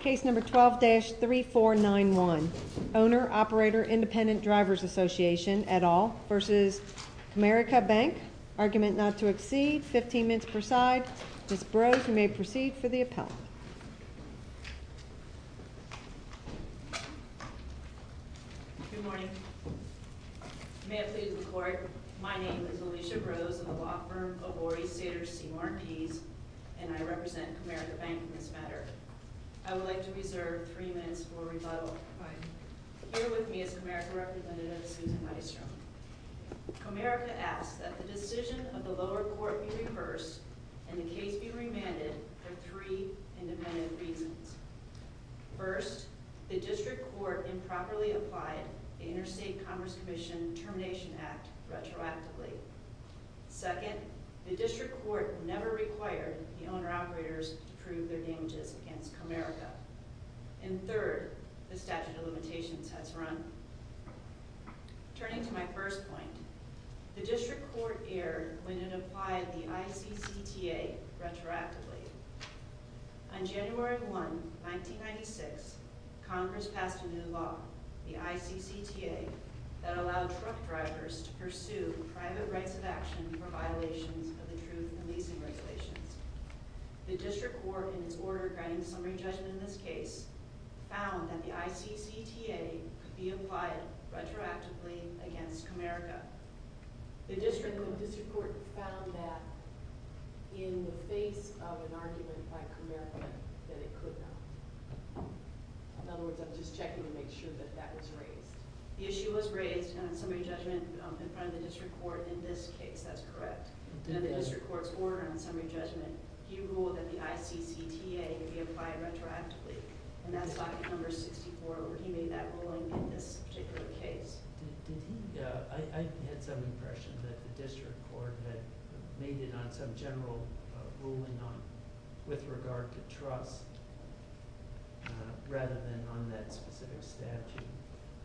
Case number 12-3491 Owner Operator Independent Drivers Association, et al. v. Comerica Bank Argument not to exceed 15 minutes per side. Ms. Brose, you may proceed for the appellate. Good morning. May it please the court. My name is Alicia Brose of the law firm Obori Cedar C. Markey's and I represent Comerica Bank in this matter. I would like to reserve three minutes for rebuttal. Here with me is Comerica Representative Susan Nystrom. Comerica asks that the decision of the lower court be reversed and the case be remanded for three independent reasons. First, the district court improperly applied the Interstate Commerce Commission Termination Act retroactively. Second, the district court never required the owner operators to prove their damages against Comerica. And third, the statute of limitations has run. Turning to my first point, the district court erred when it applied the ICCTA that allowed truck drivers to pursue private rights of action for violations of the truth in leasing regulations. The district court in its order granting summary judgment in this case found that the ICCTA could be applied retroactively against Comerica. The district court found that in the face of an argument by Comerica that it could not. In The issue was raised in a summary judgment in front of the district court in this case. That's correct. In the district court's order on summary judgment, he ruled that the ICCTA could be applied retroactively. And that's document number 64 where he made that ruling in this particular case. Did he? I had some impression that the district court had made it on some general ruling with regard to trust rather than on that specific statute.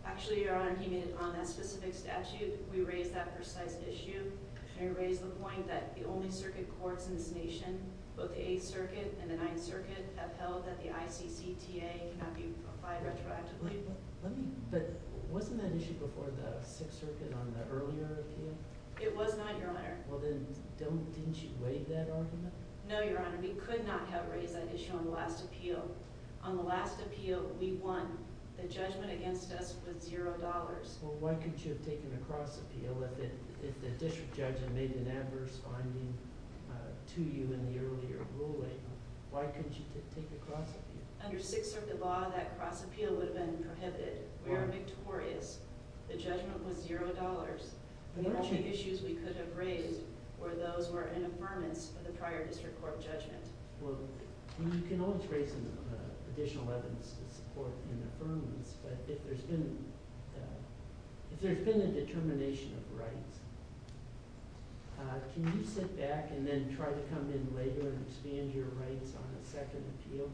Actually, Your Honor, he made it on that specific statute. We raised that precise issue. And we raised the point that the only circuit courts in this nation, both the Eighth Circuit and the Ninth Circuit, have held that the ICCTA cannot be applied retroactively. But wasn't that issue before the Sixth Circuit on the earlier appeal? It was not, Your Honor. Well, then didn't you waive that argument? No, Your Honor. We could not have raised that issue on the last appeal. On the last appeal, we won. The judgment against us was zero dollars. Well, why couldn't you have taken a cross appeal if the district judge had made an adverse finding to you in the earlier ruling? Why couldn't you take a cross appeal? Under Sixth Circuit law, that cross appeal would have been prohibited. We are victorious. The judgment was zero dollars. The only issues we could have raised were those were in affirmance of the prior district court judgment. Well, you can always raise some additional evidence to support in affirmance, but if there's been a determination of rights, can you sit back and then try to come in later and expand your rights on a second appeal?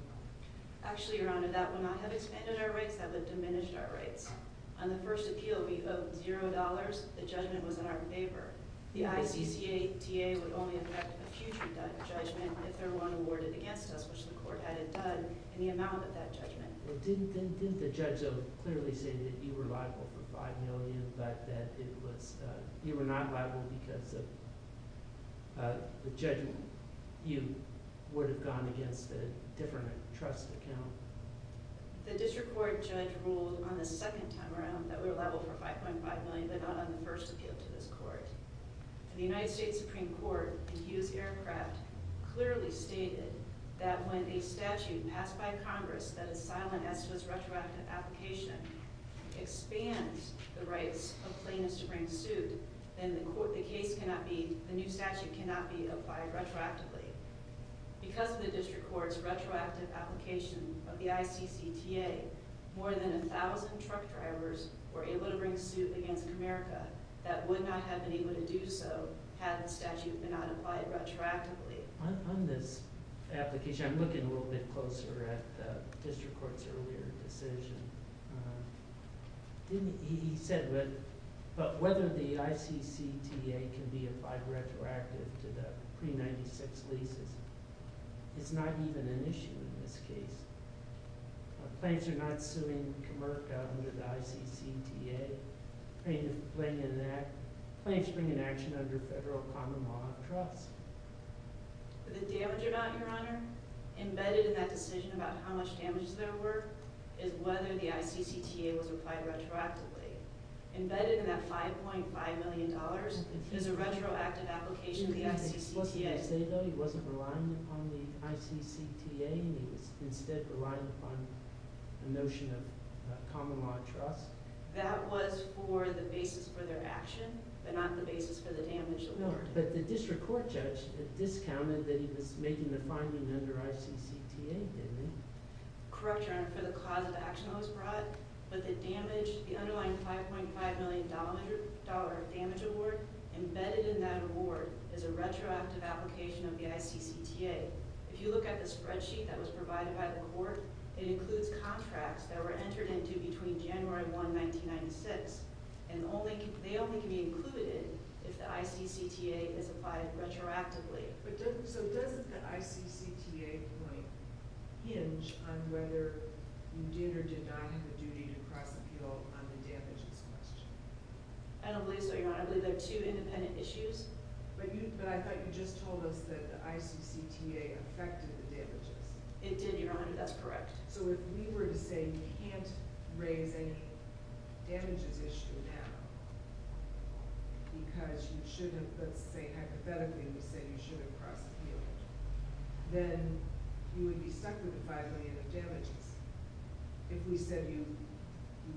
Actually, Your Honor, that would not have expanded our rights. That would have diminished our rights. On the first appeal, we owed zero dollars. The judgment was in our favor. The ICCTA would only have had a future judgment if there were one awarded against us, which the court had done, and the amount of that judgment. Well, didn't the judge clearly say that you were liable for five million, but that you were not liable because you would have gone against the different trust account? The district court judge ruled on the second time around that we were liable for 5.5 million, but not on the first appeal to this court. The United States Supreme Court in Hughes Aircraft clearly stated that when a statute passed by Congress that is silent as to its retroactive application expands the rights of plaintiffs to bring a suit, then the new statute cannot be applied retroactively. Because of the district court's retroactive application of the ICCTA, more than 1,000 truck drivers were able to bring a suit against Comerica that would not have been able to do so had the statute not been applied retroactively. On this application, I'm looking a little bit closer at the district court's earlier decision. He said, but whether the ICCTA can be applied retroactively to the pre-'96 leases is not even an issue in this case. Plaintiffs are not suing Comerica under the ICCTA. Plaintiffs bring an action under federal common law and trust. The damage amount, Your Honor, embedded in that decision about how much damage there were is whether the ICCTA was applied retroactively. Embedded in that $5.5 million is a retroactive application of the ICCTA. He wasn't relying upon the ICCTA and he was instead relying upon a notion of common law and trust? That was for the basis for their action, but not the basis for the damage award. But the district court judge discounted that he was making the finding under ICCTA, didn't he? Correct, Your Honor, for the cause of action that was brought, but the damage, the underlying $5.5 million of damage award embedded in that award is a retroactive application of the ICCTA. If you look at the spreadsheet that was provided by the court, it includes contracts that were entered into between January 1, 1996, and they only can be included if the ICCTA is applied retroactively. So doesn't the ICCTA point hinge on whether you did or did not have a duty to cross appeal on the damages question? I don't believe so, Your Honor. I believe there are two independent issues. But I thought you just told us that the ICCTA affected the damages. It did, Your Honor. That's correct. So if we were to say you can't raise any damages issue now because you shouldn't, let's say hypothetically, you said you shouldn't cross appeal, then you would be stuck with the $5 million of damages if we said you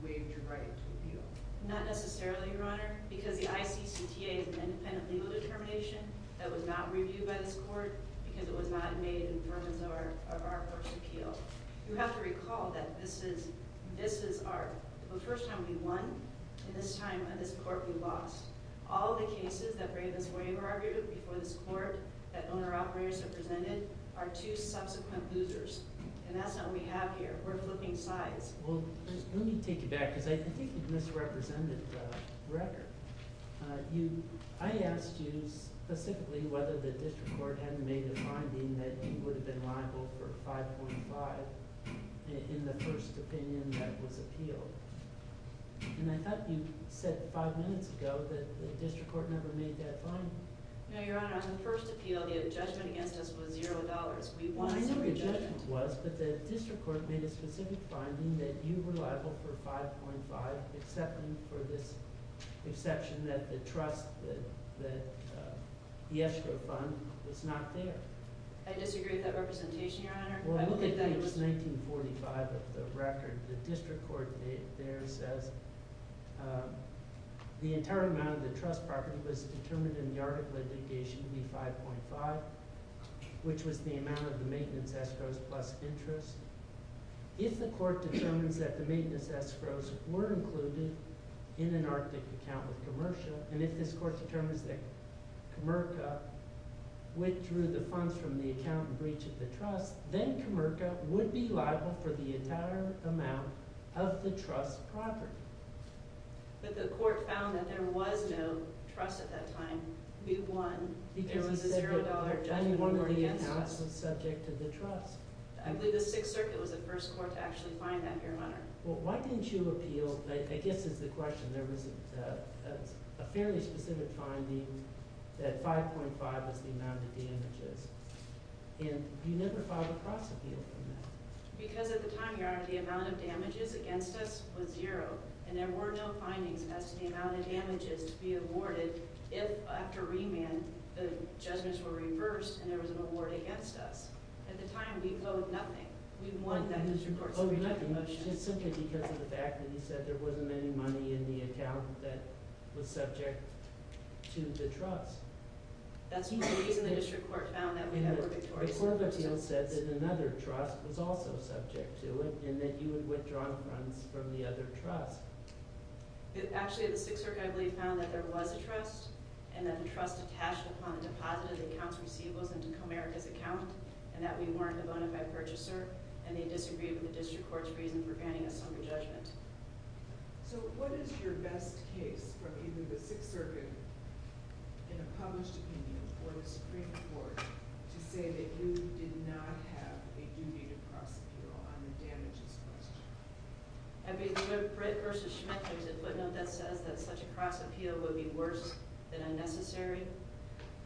waived your right to appeal. Not necessarily, Your Honor, because the ICCTA is an independent legal determination that was not reviewed by this court because it was not made in the terms of our first appeal. You have to recall that this is our first time we won, and this time in this court we lost. All the cases that Braven's Waiver argued before this court that owner-operators have presented are two subsequent losers. And that's not what we have here. We're flipping sides. Well, let me take you back because I think you've misrepresented the record. I asked you specifically whether the district court had made a finding that you would have been liable for 5.5 in the first opinion that was appealed. And I thought you said five minutes ago that the district court never made that finding. No, Your Honor. On the first appeal, the judgment against us was $0. Well, I know what the judgment was, but the district court made a specific finding that you were liable for 5.5, excepting for this exception that the trust, that the escrow fund was not there. I disagree with that representation, Your Honor. Well, look at page 1945 of the record. The district court there says the entire amount of the trust property was determined in the article litigation v. 5.5, which was the amount of the maintenance escrows plus interest. If the court determines that the maintenance escrows were included in an Arctic account with Comercia, and if this court determines that Comercia withdrew the funds from the account in breach of the trust, then Comercia would be liable for the entire amount of the trust property. But the court found that there was no trust at that time. We won. There was a $0 judgment against us. Because any one of the accounts was subject to the trust. I believe the Sixth Circuit was the first court to actually find that, Your Honor. Well, why didn't you appeal? I guess it's the question. There was a fairly specific finding that 5.5 was the amount of damages. And you never filed a cross-appeal for that. Because at the time, Your Honor, the amount of damages against us was zero, and there were no findings as to the amount of damages to be awarded if, after remand, the judgments were reversed and there was an award against us. At the time, we voted nothing. We won that district court's rejection. Oh, you voted nothing. It's simply because of the fact that you said there wasn't any money in the account that was subject to the trust. That's the only reason the district court found that we had a victorious appeal. The court of appeals said that another trust was also subject to it and that you had withdrawn funds from the other trust. Actually, the Sixth Circuit, I believe, found that there was a trust and that the trust attached upon a deposit of the account's receivables into Comercia's account and that we weren't a bona fide purchaser, and they disagreed with the district court's reason for granting us some rejudgment. So what is your best case from either the Sixth Circuit, in a published opinion, or the Supreme Court, to say that you did not have a duty to cross-appeal on the damages question? I believe that Britt v. Schmidt, there's a footnote that says that such a cross-appeal would be worse than unnecessary,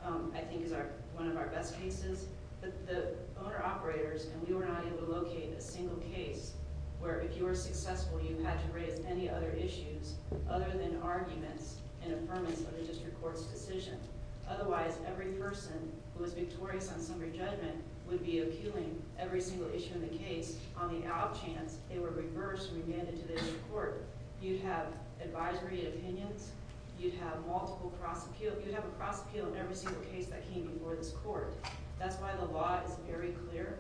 I think is one of our best cases. The owner-operators and we were not able to locate a single case where, if you were successful, you had to raise any other issues other than arguments and affirmance of the district court's decision. Otherwise, every person who was victorious on summary judgment would be appealing every single issue in the case. On the out chance they were reversed and remanded to the district court, you'd have advisory opinions, you'd have multiple cross-appeals, you'd have a cross-appeal of every single case that came before this court. That's why the law is very clear,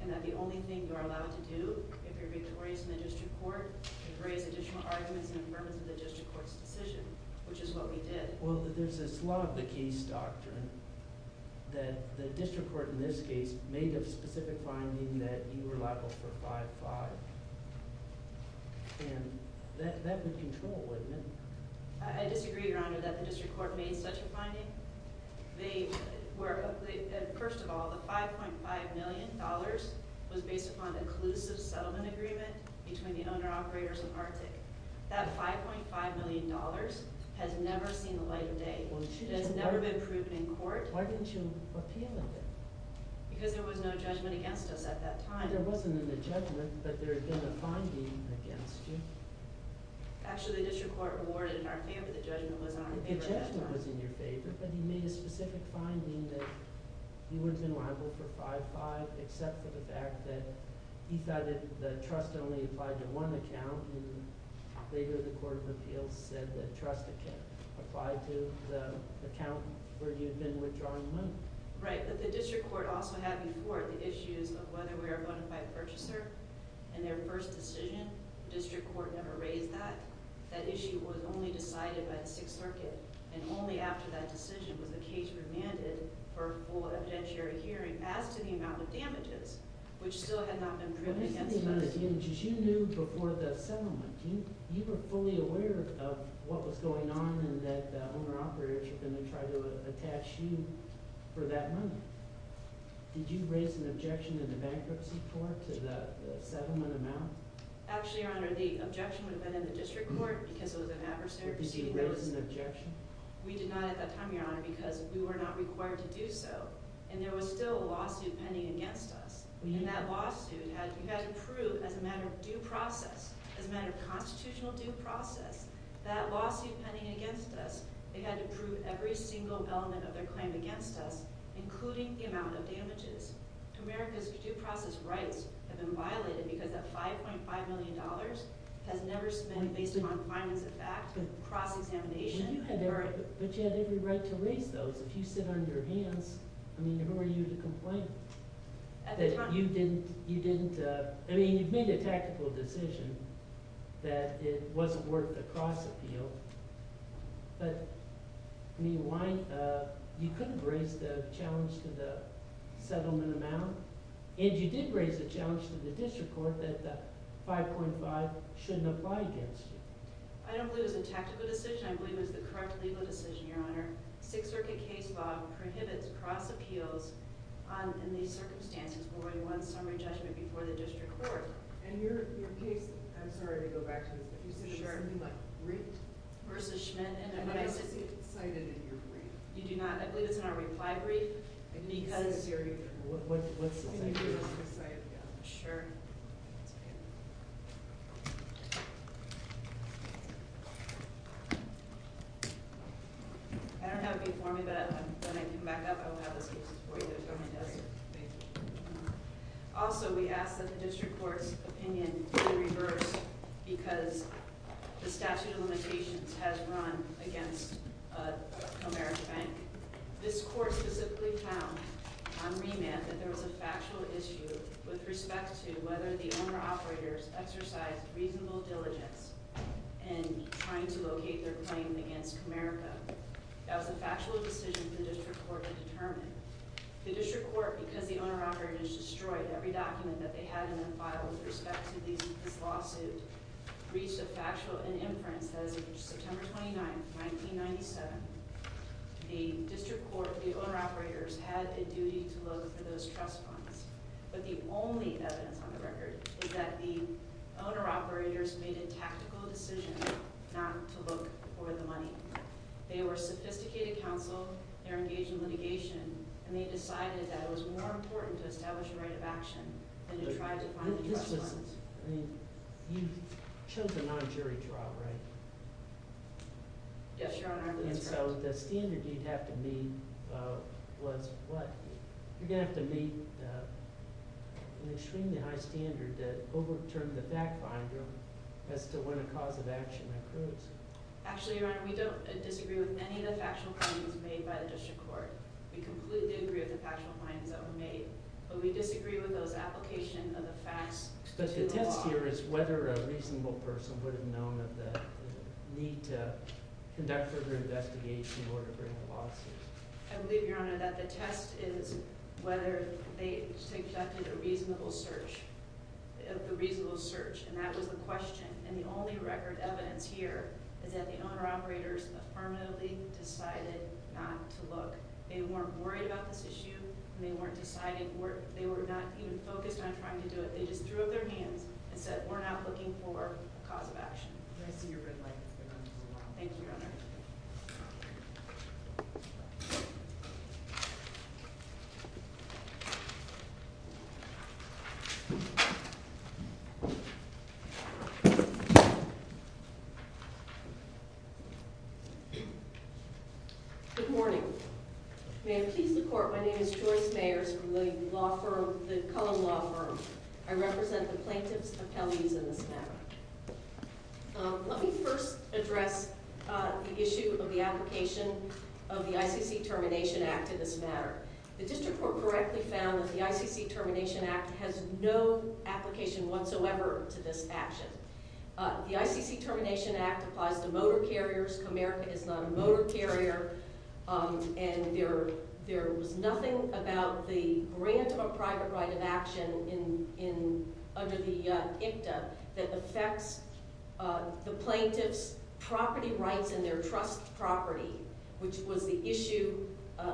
and that the only thing you're allowed to do, if you're victorious in the district court, is raise additional arguments and affirmance of the district court's decision, which is what we did. Well, there's this law of the case doctrine, that the district court in this case made a specific finding that you were liable for 5-5, and that would control Whitman. I disagree, Your Honor, that the district court made such a finding. First of all, the $5.5 million was based upon an inclusive settlement agreement between the owner-operators of Arctic. That $5.5 million has never seen the light of day. It has never been proven in court. Why didn't you appeal it then? Because there was no judgment against us at that time. There wasn't any judgment, but there had been a finding against you. Actually, the district court awarded it in our favor. The judgment was in our favor. The judgment was in your favor, but he made a specific finding that you wouldn't have been liable for 5-5, except for the fact that he thought that the trust only applied to one account, and later the court of appeals said that trust applied to the account where you'd been withdrawing money. Right, but the district court also had before it the issues of whether we were voted by a purchaser in their first decision. The district court never raised that. That issue was only decided by the Sixth Circuit, and only after that decision was the case remanded for a full evidentiary hearing, as to the amount of damages, which still had not been proven against us. Let me ask you another question, because you knew before the settlement. You were fully aware of what was going on and that the owner-operators were going to try to attach you for that money. Did you raise an objection in the bankruptcy court to the settlement amount? Actually, Your Honor, the objection would have been in the district court because it was an adversary proceeding. Did you raise an objection? We did not at that time, Your Honor, because we were not required to do so, and there was still a lawsuit pending against us, and that lawsuit had to be proved as a matter of due process, as a matter of constitutional due process. That lawsuit pending against us, they had to prove every single element of their claim against us, including the amount of damages. America's due process rights have been violated because that $5.5 million has never been spent, based upon findings of fact, cross-examination. But you had every right to raise those. If you sit on your hands, I mean, who are you to complain? At the time. You didn't. I mean, you've made a tactical decision that it wasn't worth the cross-appeal, but, I mean, why? You could have raised the challenge to the settlement amount, and you did raise the challenge to the district court that the $5.5 million shouldn't apply against you. I don't believe it was a tactical decision. I believe it was the correct legal decision, Your Honor. Sixth Circuit case law prohibits cross-appeals in these circumstances before you want a summary judgment before the district court. And your case, I'm sorry to go back to this, but you said it was something like briefed? Versus Schmidt. And I don't see it cited in your brief. You do not. I believe it's in our reply brief. What's the thing you do? Sure. I don't have it before me, but when I come back up, I will have those cases for you. Thank you. Also, we ask that the district court's opinion be reversed because the statute of limitations has run against Comerica Bank. This court specifically found on remand that there was a factual issue with respect to whether the owner-operators exercised reasonable diligence in trying to locate their claim against Comerica. That was a factual decision the district court had determined. The district court, because the owner-operators destroyed every document that they had in their file with respect to this lawsuit, reached a factual inference that as of September 29, 1997, the district court, the owner-operators, had a duty to look for those trust funds. But the only evidence on the record is that the owner-operators made a tactical decision not to look for the money. They were sophisticated counsel, they were engaged in litigation, and they decided that it was more important to establish a right of action than to try to find the trust funds. You chose a non-jury trial, right? Yes, Your Honor. And so the standard you'd have to meet was what? You're going to have to meet an extremely high standard that overturned the fact finder as to when a cause of action occurs. Actually, Your Honor, we don't disagree with any of the factional findings made by the district court. We completely agree with the factional findings that were made, but we disagree with those applications of the facts to the law. But the test here is whether a reasonable person would have known of the need to conduct further investigation or to bring the lawsuits. I believe, Your Honor, that the test is whether they subjected a reasonable search. The reasonable search. And that was the question. And the only record evidence here is that the owner-operators affirmatively decided not to look. They weren't worried about this issue, and they weren't deciding. They were not even focused on trying to do it. They just threw up their hands and said, We're not looking for a cause of action. May I see your red light? Thank you, Your Honor. Good morning. May I please report my name is Joyce Mayers from the law firm, I represent the plaintiffs' appellees in this matter. Let me first address the issue of the application of the ICC Termination Act to this matter. The district court correctly found that the ICC Termination Act has no application whatsoever to this action. The ICC Termination Act applies to motor carriers. Comerica is not a motor carrier. And there was nothing about the grant of a private right of action under the ICTA that affects the plaintiff's property rights and their trust property, which was the issue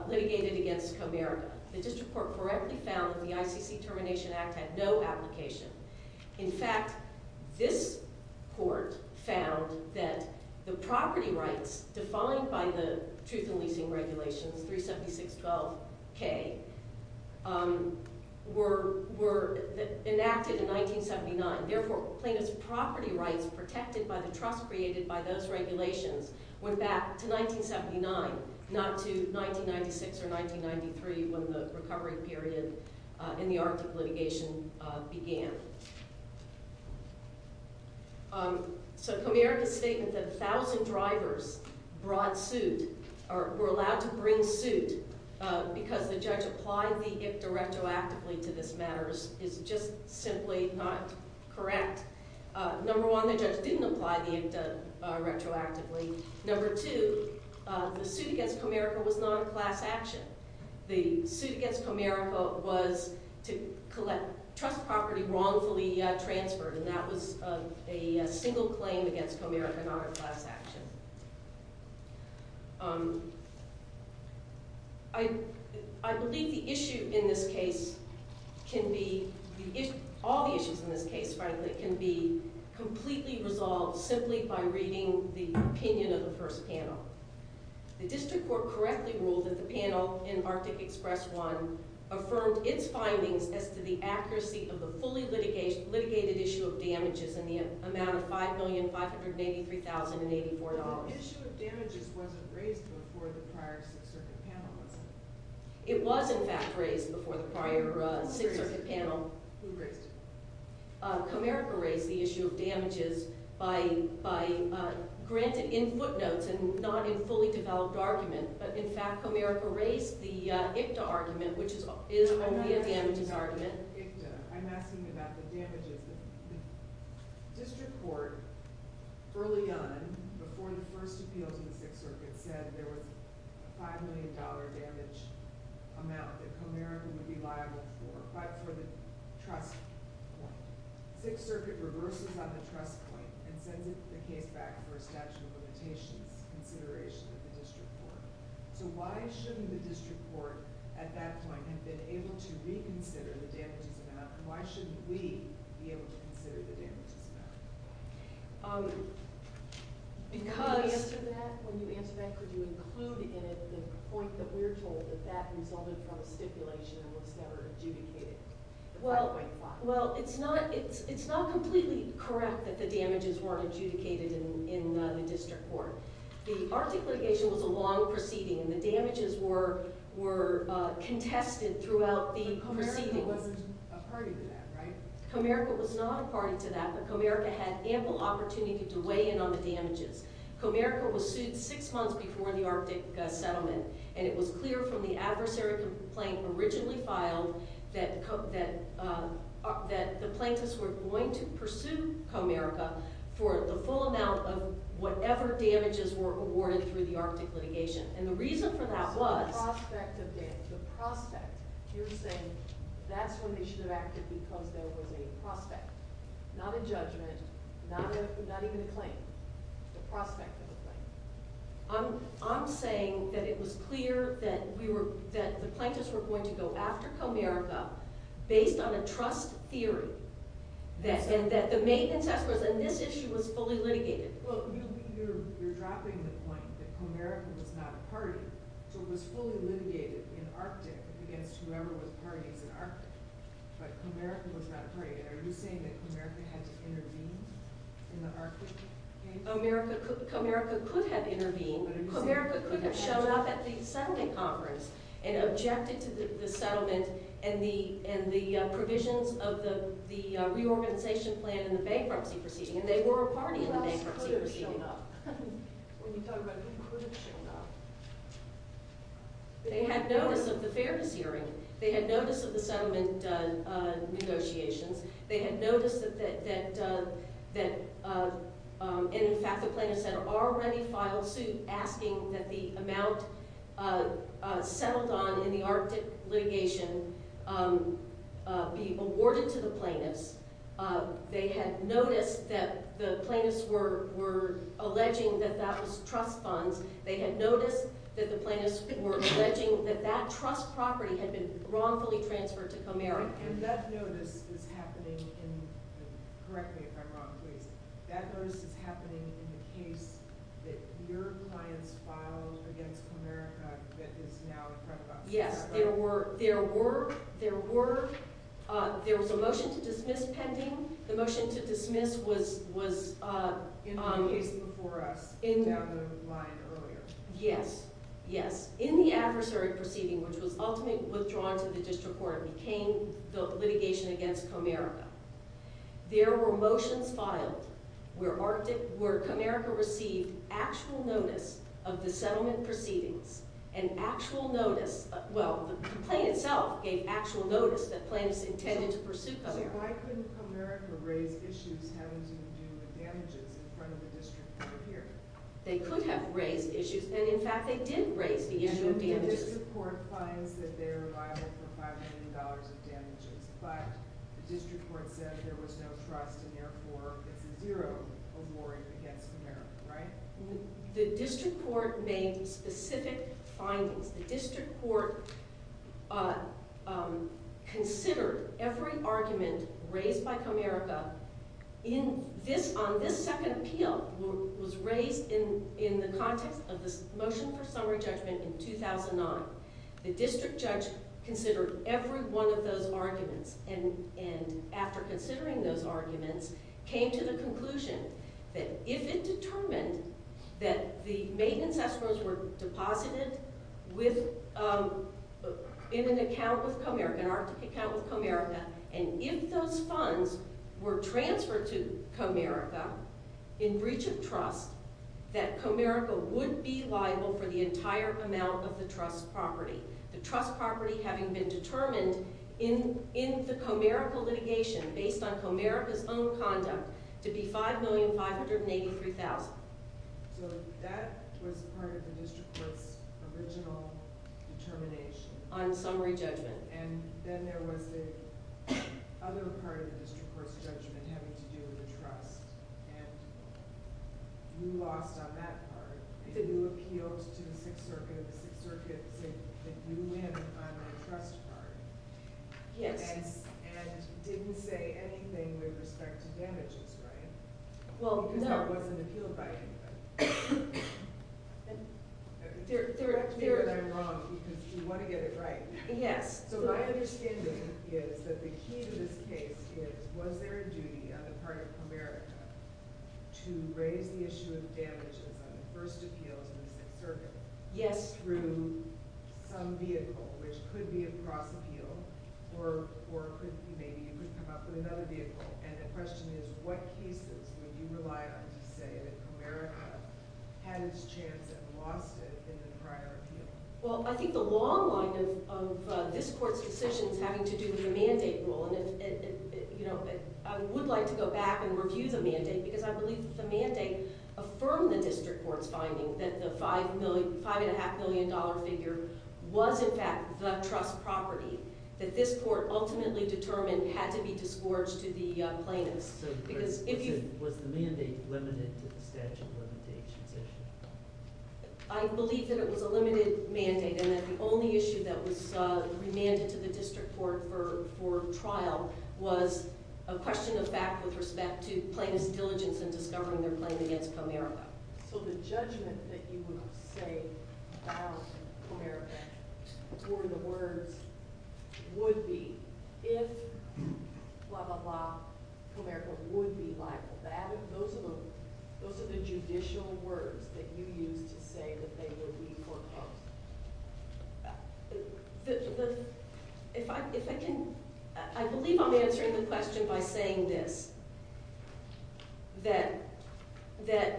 litigated against Comerica. The district court correctly found that the ICC Termination Act had no application. In fact, this court found that the property rights defined by the Truth in Leasing Regulations 37612K were enacted in 1979. Therefore, plaintiff's property rights protected by the trust created by those regulations went back to 1979, not to 1996 or 1993 when the recovery period in the Arctic litigation began. So Comerica's statement that 1,000 drivers brought suit or were allowed to bring suit because the judge applied the ICTA retroactively to this matter is just simply not correct. Number one, the judge didn't apply the ICTA retroactively. Number two, the suit against Comerica was not a class action. The suit against Comerica was to collect trust property wrongfully transferred, and that was a single claim against Comerica, not a class action. I believe the issue in this case can be, all the issues in this case, frankly, can be completely resolved simply by reading the opinion of the first panel. The district court correctly ruled that the panel in Arctic Express 1 affirmed its findings as to the accuracy of the fully litigated issue of damages in the amount of $5,583,084. But the issue of damages wasn't raised before the prior Sixth Circuit panel was. It was, in fact, raised before the prior Sixth Circuit panel. Who raised it? Comerica raised the issue of damages by, granted, in footnotes and not in a fully developed argument. But, in fact, Comerica raised the ICTA argument, which is only a damages argument. I'm asking about the damages. The district court, early on, before the first appeals in the Sixth Circuit, said there was a $5 million damage amount that Comerica would be liable for, but for the trust point. Sixth Circuit reverses on the trust point and sends the case back for a statute of limitations consideration of the district court. So why shouldn't the district court, at that point, have been able to reconsider the damages amount? Why shouldn't we be able to consider the damages amount? Because— When you answer that, when you answer that, could you include in it the point that we're told that that resulted from a stipulation and was never adjudicated? Well, it's not completely correct that the damages weren't adjudicated in the district court. The Arctic litigation was a long proceeding, and the damages were contested throughout the proceedings. But Comerica wasn't a party to that, right? Comerica was not a party to that, but Comerica had ample opportunity to weigh in on the damages. Comerica was sued six months before the Arctic settlement, and it was clear from the adversary complaint originally filed that the plaintiffs were going to pursue Comerica for the full amount of whatever damages were awarded through the Arctic litigation. And the reason for that was— The prospect of damage, the prospect. You're saying that's when they should have acted because there was a prospect, not a judgment, not even a claim. The prospect of a claim. I'm saying that it was clear that the plaintiffs were going to go after Comerica based on a trust theory, and that the maintenance efforts on this issue was fully litigated. Well, you're dropping the point that Comerica was not a party, so it was fully litigated in the Arctic against whoever was parties in the Arctic. But Comerica was not a party. Are you saying that Comerica had to intervene in the Arctic case? Comerica could have intervened. Comerica could have shown up at the settlement conference and objected to the settlement and the provisions of the reorganization plan and the bankruptcy proceeding. And they were a party in the bankruptcy proceeding. Who else could have shown up when you talk about who could have shown up? They had notice of the fairness hearing. They had notice of the settlement negotiations. They had notice that, in fact, the plaintiffs had already filed suit asking that the amount settled on in the Arctic litigation be awarded to the plaintiffs. They had notice that the plaintiffs were alleging that that was trust funds. They had notice that the plaintiffs were alleging that that trust property had been wrongfully transferred to Comerica. And that notice is happening in—correct me if I'm wrong, please. That notice is happening in the case that your clients filed against Comerica that is now in front of us. Yes, there was a motion to dismiss pending. The motion to dismiss was— In the case before us, down the line earlier. Yes, yes. In the adversary proceeding, which was ultimately withdrawn to the district court and became the litigation against Comerica, there were motions filed where Comerica received actual notice of the settlement proceedings and actual notice—well, the complaint itself gave actual notice that plaintiffs intended to pursue Comerica. So why couldn't Comerica raise issues having to do with damages in front of the district court hearing? They could have raised issues, and in fact, they did raise the issue of damages. The district court finds that they're liable for $5 million of damages, but the district court said there was no trust, and therefore it's a zero award against Comerica, right? The district court made specific findings. The district court considered every argument raised by Comerica on this second appeal was raised in the context of the motion for summary judgment in 2009. The district judge considered every one of those arguments, and after considering those arguments, came to the conclusion that if it determined that the maintenance escrows were deposited in an account with Comerica, an Arctic account with Comerica, and if those funds were transferred to Comerica in breach of trust, that Comerica would be liable for the entire amount of the trust property, the trust property having been determined in the Comerica litigation based on Comerica's own conduct to be $5,583,000. So that was part of the district court's original determination? On summary judgment. And then there was the other part of the district court's judgment having to do with the trust, and you lost on that part. You appealed to the Sixth Circuit, and the Sixth Circuit said that you win on the trust part. Yes. And didn't say anything with respect to damages, right? Well, no. Because that wasn't appealed by anybody. Correct me if I'm wrong, because you want to get it right. Yes. So my understanding is that the key to this case is, was there a duty on the part of Comerica to raise the issue of damages on the first appeal to the Sixth Circuit? Yes. Through some vehicle, which could be a cross appeal, or maybe you could come up with another vehicle. And the question is, what cases would you rely on to say that Comerica had its chance and lost it in the prior appeal? Well, I think the long line of this court's decision is having to do with the mandate rule. And I would like to go back and review the mandate, because I believe that the mandate affirmed the district court's finding that the $5.5 million figure was, in fact, the trust property, that this court ultimately determined had to be disgorged to the plaintiffs. So was the mandate limited to the statute limitations issue? I believe that it was a limited mandate and that the only issue that was remanded to the district court for trial was a question of fact with respect to plaintiffs' diligence in discovering their claim against Comerica. So the judgment that you would say about Comerica or the words would be, if, blah, blah, blah, Comerica would be liable, those are the judicial words that you use to say that they would be foreclosed. If I can – I believe I'm answering the question by saying this, that the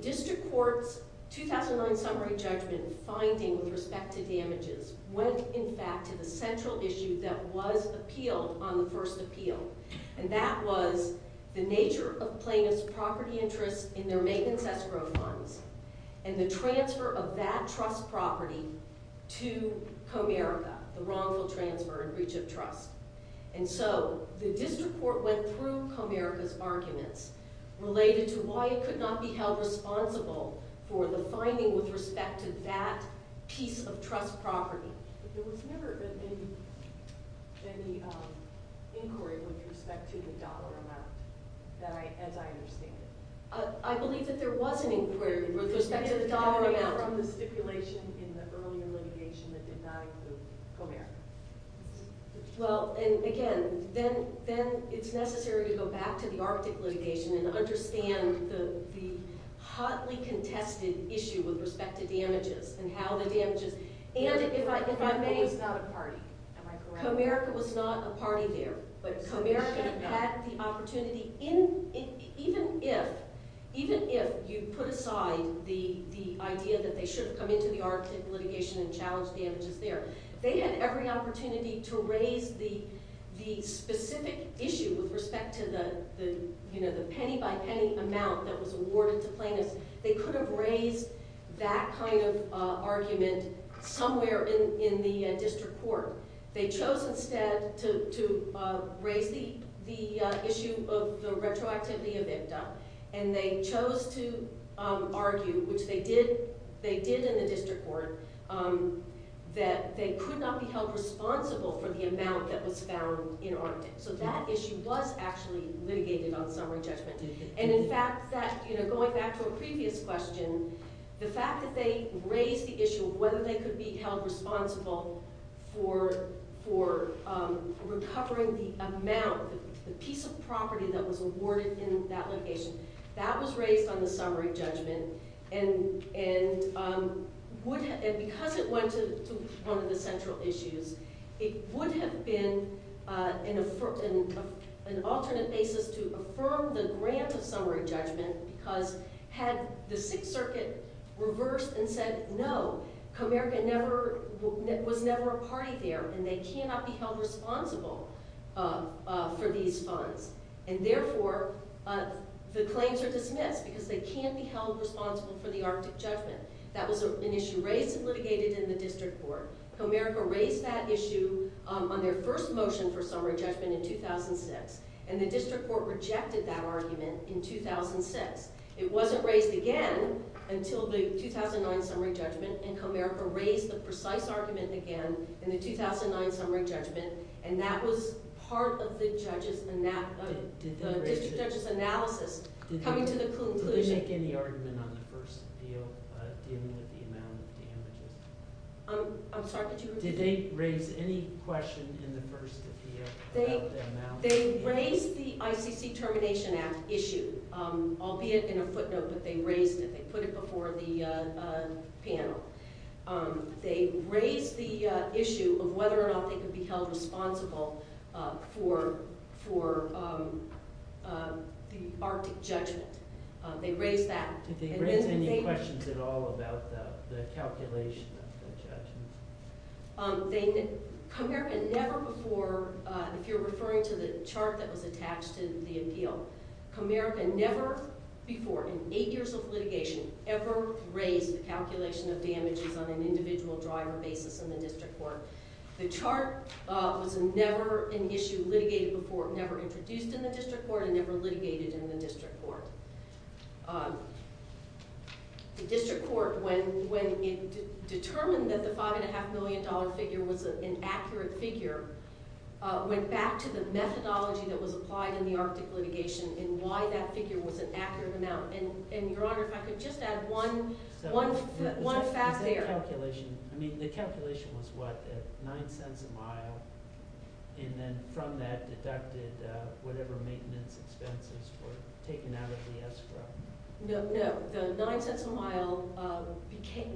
district court's 2009 summary judgment finding with respect to damages went, in fact, to the central issue that was appealed on the first appeal. And that was the nature of plaintiffs' property interests in their maintenance escrow funds and the transfer of that trust property to Comerica, the wrongful transfer in breach of trust. And so the district court went through Comerica's arguments related to why it could not be held responsible for the finding with respect to that piece of trust property. But there was never been any inquiry with respect to the dollar amount, as I understand it. I believe that there was an inquiry with respect to the dollar amount. There was no inquiry from the stipulation in the earlier litigation that did not include Comerica. Well, and again, then it's necessary to go back to the Arctic litigation and understand the hotly contested issue with respect to damages and how the damages – Comerica was not a party. Am I correct? Comerica was not a party there. But Comerica had the opportunity, even if you put aside the idea that they should have come into the Arctic litigation and challenged damages there, they had every opportunity to raise the specific issue with respect to the penny-by-penny amount that was awarded to plaintiffs. They could have raised that kind of argument somewhere in the district court. They chose instead to raise the issue of the retroactivity of IPTA. And they chose to argue, which they did in the district court, that they could not be held responsible for the amount that was found in Arctic. So that issue was actually litigated on summary judgment. And in fact, going back to a previous question, the fact that they raised the issue of whether they could be held responsible for recovering the amount, the piece of property that was awarded in that location, that was raised on the summary judgment. And because it went to one of the central issues, it would have been an alternate basis to affirm the grant of summary judgment because had the Sixth Circuit reversed and said, no, Comerica was never a party there, and they cannot be held responsible for these funds, and therefore the claims are dismissed because they can't be held responsible for the Arctic judgment. That was an issue raised and litigated in the district court. Comerica raised that issue on their first motion for summary judgment in 2006, and the district court rejected that argument in 2006. It wasn't raised again until the 2009 summary judgment, and Comerica raised the precise argument again in the 2009 summary judgment, and that was part of the district judge's analysis coming to the conclusion. Did they make any argument on the first appeal dealing with the amount of damages? I'm sorry, could you repeat that? Did they raise any question in the first appeal about the amount? They raised the ICC Termination Act issue, albeit in a footnote, but they raised it. They put it before the panel. They raised the issue of whether or not they could be held responsible for the Arctic judgment. They raised that. Did they raise any questions at all about the calculation of the judgment? Comerica never before, if you're referring to the chart that was attached to the appeal, Comerica never before in eight years of litigation ever raised the calculation of damages on an individual driver basis in the district court. The chart was never an issue litigated before, never introduced in the district court, and never litigated in the district court. The district court, when it determined that the $5.5 million figure was an accurate figure, went back to the methodology that was applied in the Arctic litigation and why that figure was an accurate amount. Your Honor, if I could just add one fast error. The calculation was what, $0.09 a mile, and then from that deducted whatever maintenance expenses were taken out of the escrow? No, no. The $0.09 a mile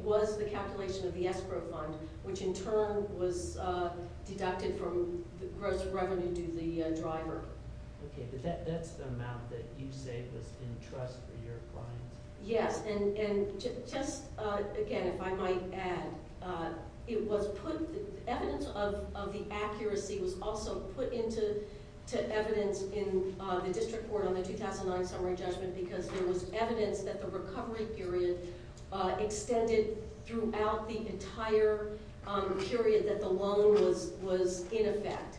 was the calculation of the escrow fund, which in turn was deducted from the gross revenue due to the driver. Okay, but that's the amount that you say was in trust for your client? Yes, and just again, if I might add, the evidence of the accuracy was also put into evidence in the district court on the 2009 summary judgment because there was evidence that the recovery period extended throughout the entire period that the loan was in effect.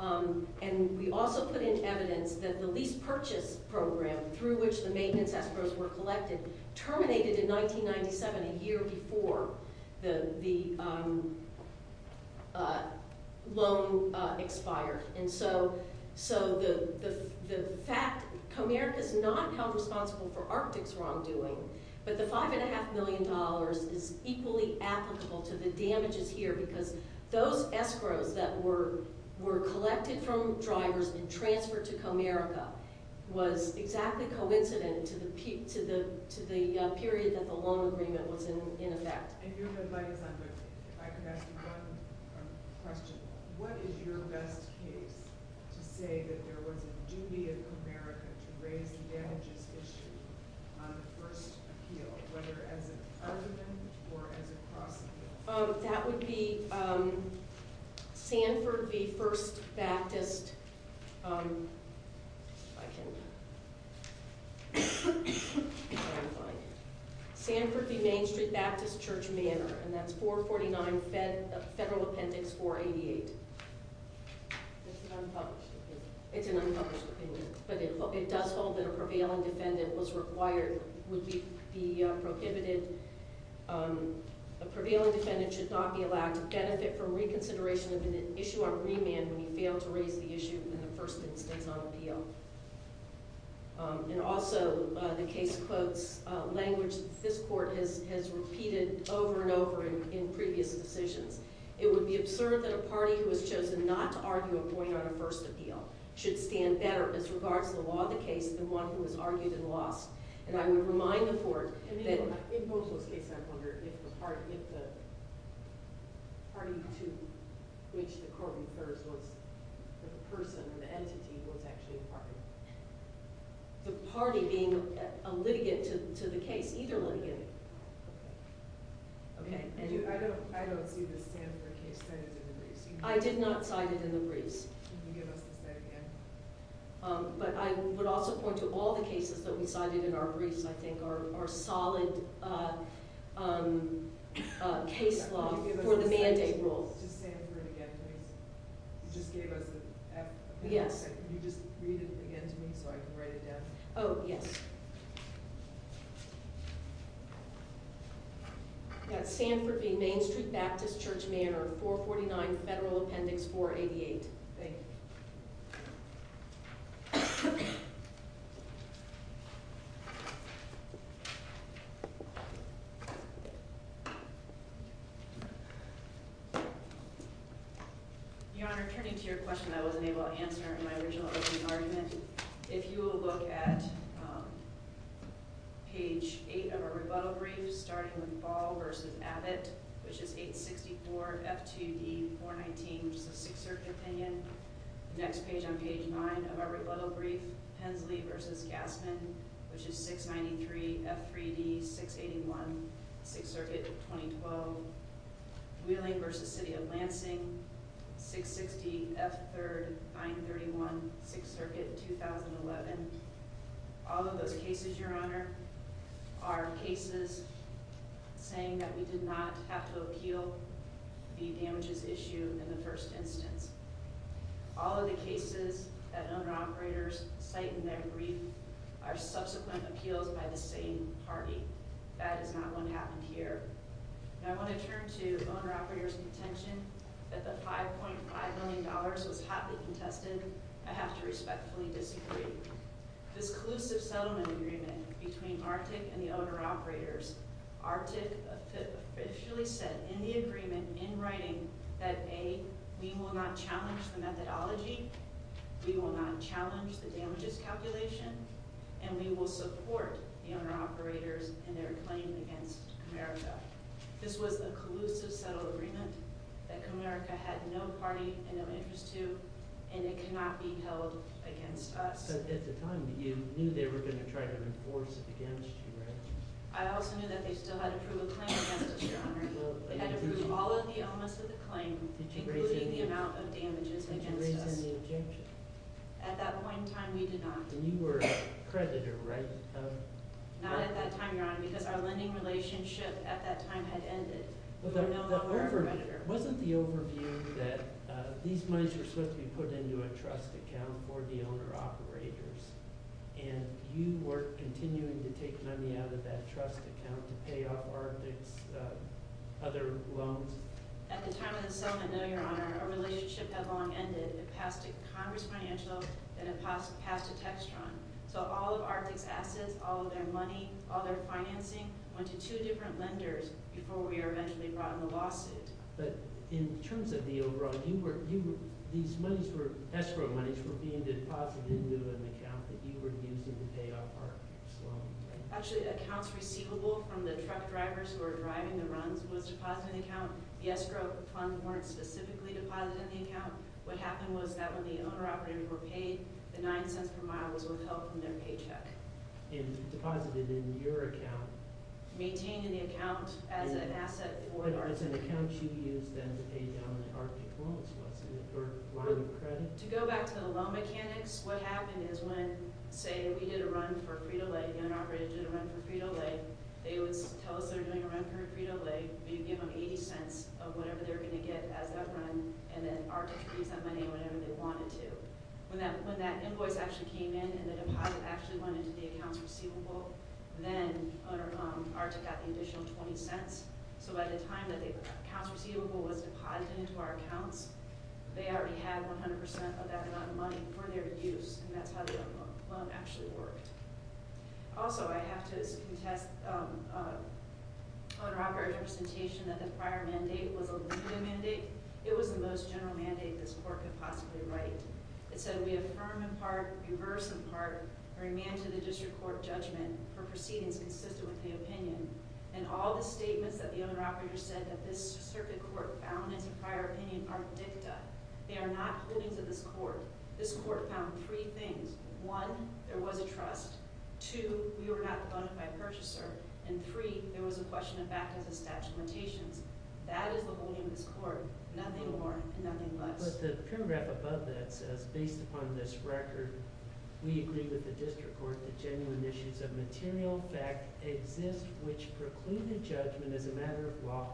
And we also put in evidence that the lease purchase program, through which the maintenance escrows were collected, terminated in 1997, a year before the loan expired. And so the fact Comerica's not held responsible for Arctic's wrongdoing, but the $5.5 million is equally applicable to the damages here because those escrows that were collected from drivers and transferred to Comerica was exactly coincident to the period that the loan agreement was in effect. And your headlight is on, but if I could ask you one question, what is your best case to say that there was a duty of Comerica to raise the damages issue on the first appeal, whether as an argument or as a cross-appeal? That would be Sanford v. First Baptist. Sanford v. Main Street Baptist Church Manor, and that's 449 Federal Appendix 488. It's an unpublished opinion. It's an unpublished opinion, but it does hold that a prevailing defendant was required, would be prohibited, a prevailing defendant should not be allowed to benefit from reconsideration of an issue on remand when he failed to raise the issue in the first instance on appeal. And also the case quotes language that this court has repeated over and over in previous decisions. It would be absurd that a party who has chosen not to argue a point on a first appeal should stand better as regards to the law of the case than one who has argued and lost. And I would remind the court that- In both those cases, I wondered if the party to which the court refers was the person, the entity, was actually the party. The party being a litigant to the case, either litigant. Okay, I don't see the Sanford case cited in the briefs. I did not cite it in the briefs. Can you give us the state again? But I would also point to all the cases that we cited in our briefs, I think, are solid case law for the mandate rule. Just Sanford again, please. You just gave us the- Yes. Can you just read it again to me so I can write it down? Oh, yes. Sanford v. Main Street Baptist Church Manor, 449 Federal Appendix 488. Thank you. Okay. Your Honor, turning to your question, I wasn't able to answer it in my original opening argument. If you will look at page 8 of our rebuttal brief, starting with Ball v. Abbott, which is 864 F2d 419, which is a Sixth Circuit opinion. Next page on page 9 of our rebuttal brief, Hensley v. Gassman, which is 693 F3d 681, Sixth Circuit 2012. Wheeling v. City of Lansing, 660 F3d 931, Sixth Circuit 2011. All of those cases, Your Honor, are cases saying that we did not have to appeal the damages issue in the first instance. All of the cases that owner-operators cite in their brief are subsequent appeals by the same party. That is not what happened here. Now, I want to turn to owner-operators' contention that the $5.5 million was hotly contested. I have to respectfully disagree. This collusive settlement agreement between ARTIC and the owner-operators, ARTIC officially said in the agreement in writing that, A, we will not challenge the methodology, we will not challenge the damages calculation, and we will support the owner-operators in their claim against Comerica. This was a collusive settlement agreement that Comerica had no party and no interest to, and it cannot be held against us. At the time, you knew they were going to try to enforce it against you, right? I also knew that they still had to prove a claim against us, Your Honor. They had to prove all of the elements of the claim, including the amount of damages against us. Did you raise any objection? At that point in time, we did not. And you were a creditor, right? Not at that time, Your Honor, because our lending relationship at that time had ended. We were no longer a creditor. Wasn't the overview that these monies were supposed to be put into a trust account for the owner-operators, and you were continuing to take money out of that trust account to pay off Arctic's other loans? At the time of the settlement, no, Your Honor. Our relationship had long ended. It passed to Congress Financial, then it passed to Textron. So all of Arctic's assets, all of their money, all their financing went to two different lenders before we were eventually brought in the lawsuit. But in terms of the overall, these escrow monies were being deposited into an account that you were using to pay off Arctic's loan. Actually, accounts receivable from the truck drivers who were driving the runs was deposited in the account. The escrow funds weren't specifically deposited in the account. What happened was that when the owner-operators were paid, the $0.09 per mile was withheld from their paycheck. And deposited in your account. Maintained in the account as an asset for Arctic. What credit or as an account did you use then to pay down the Arctic loans? To go back to the loan mechanics, what happened is when, say, we did a run for Frito-Lay, the owner-operator did a run for Frito-Lay, they would tell us they were doing a run for Frito-Lay, we would give them $0.80 of whatever they were going to get as that run, and then Arctic would use that money whenever they wanted to. When that invoice actually came in and the deposit actually went into the accounts receivable, then Arctic got the additional $0.20. So by the time that the accounts receivable was deposited into our accounts, they already had 100% of that run money for their use, and that's how the loan actually worked. Also, I have to contest owner-operator representation that the prior mandate was a limited mandate. It was the most general mandate this court could possibly write. It said, we affirm in part, reverse in part, and remand to the district court judgment for proceedings consistent with the opinion. And all the statements that the owner-operator said that this circuit court found as a prior opinion are dicta. They are not holdings of this court. This court found three things. One, there was a trust. Two, we were not bonded by a purchaser. And three, there was a question of back as a statute of limitations. That is the holding of this court, nothing more and nothing less. But the paragraph above that says, based upon this record, we agree with the district court that genuine issues of material fact exist which preclude a judgment as a matter of law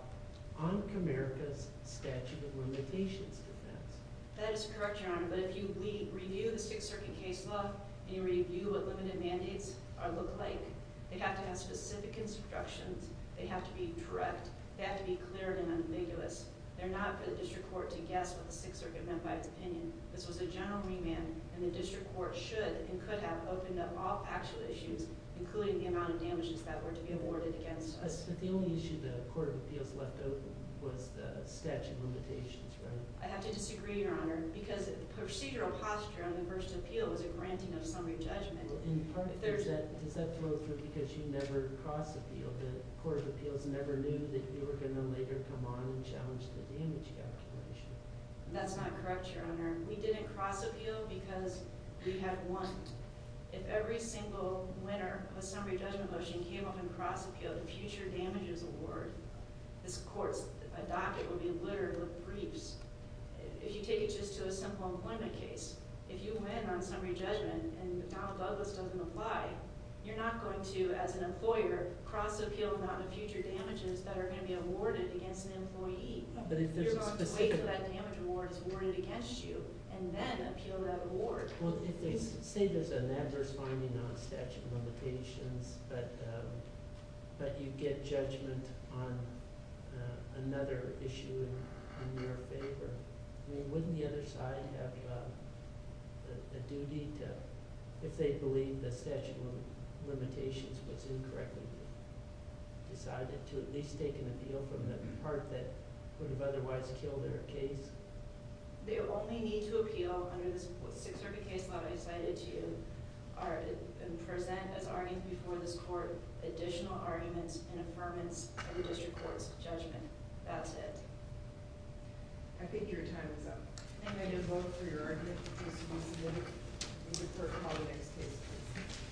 on Comerica's statute of limitations defense. That is correct, Your Honor, but if you review the Sixth Circuit case law and you review what limited mandates look like, they have to have specific instructions. They have to be direct. They have to be clear and unambiguous. They're not for the district court to guess what the Sixth Circuit meant by its opinion. This was a general remand, and the district court should and could have opened up all factual issues, including the amount of damages that were to be awarded against us. But the only issue the Court of Appeals left open was the statute of limitations, right? I have to disagree, Your Honor, because the procedural posture on the first appeal was a granting of summary judgment. Does that flow through because you never cross-appealed? The Court of Appeals never knew that you were going to later come on and challenge the damage calculation. That's not correct, Your Honor. We didn't cross-appeal because we had won. If every single winner of a summary judgment motion came up and cross-appealed a future damages award, this court's docket would be littered with briefs. If you take it just to a simple employment case, if you win on summary judgment and McDonnell Douglas doesn't apply, you're not going to, as an employer, cross-appeal the amount of future damages that are going to be awarded against an employee. You're going to wait until that damage award is awarded against you and then appeal that award. Well, say there's an adverse finding on statute of limitations, but you get judgment on another issue in your favor. Wouldn't the other side have a duty to, if they believe the statute of limitations was incorrectly decided, to at least take an appeal from the part that would have otherwise killed their case? They only need to appeal under the 630 case law I cited to you and present as argued before this court additional arguments and affirmance of the district court's judgment. That's it. I think your time is up. Anybody to vote for your argument? If it's possible, we can call the next case, please.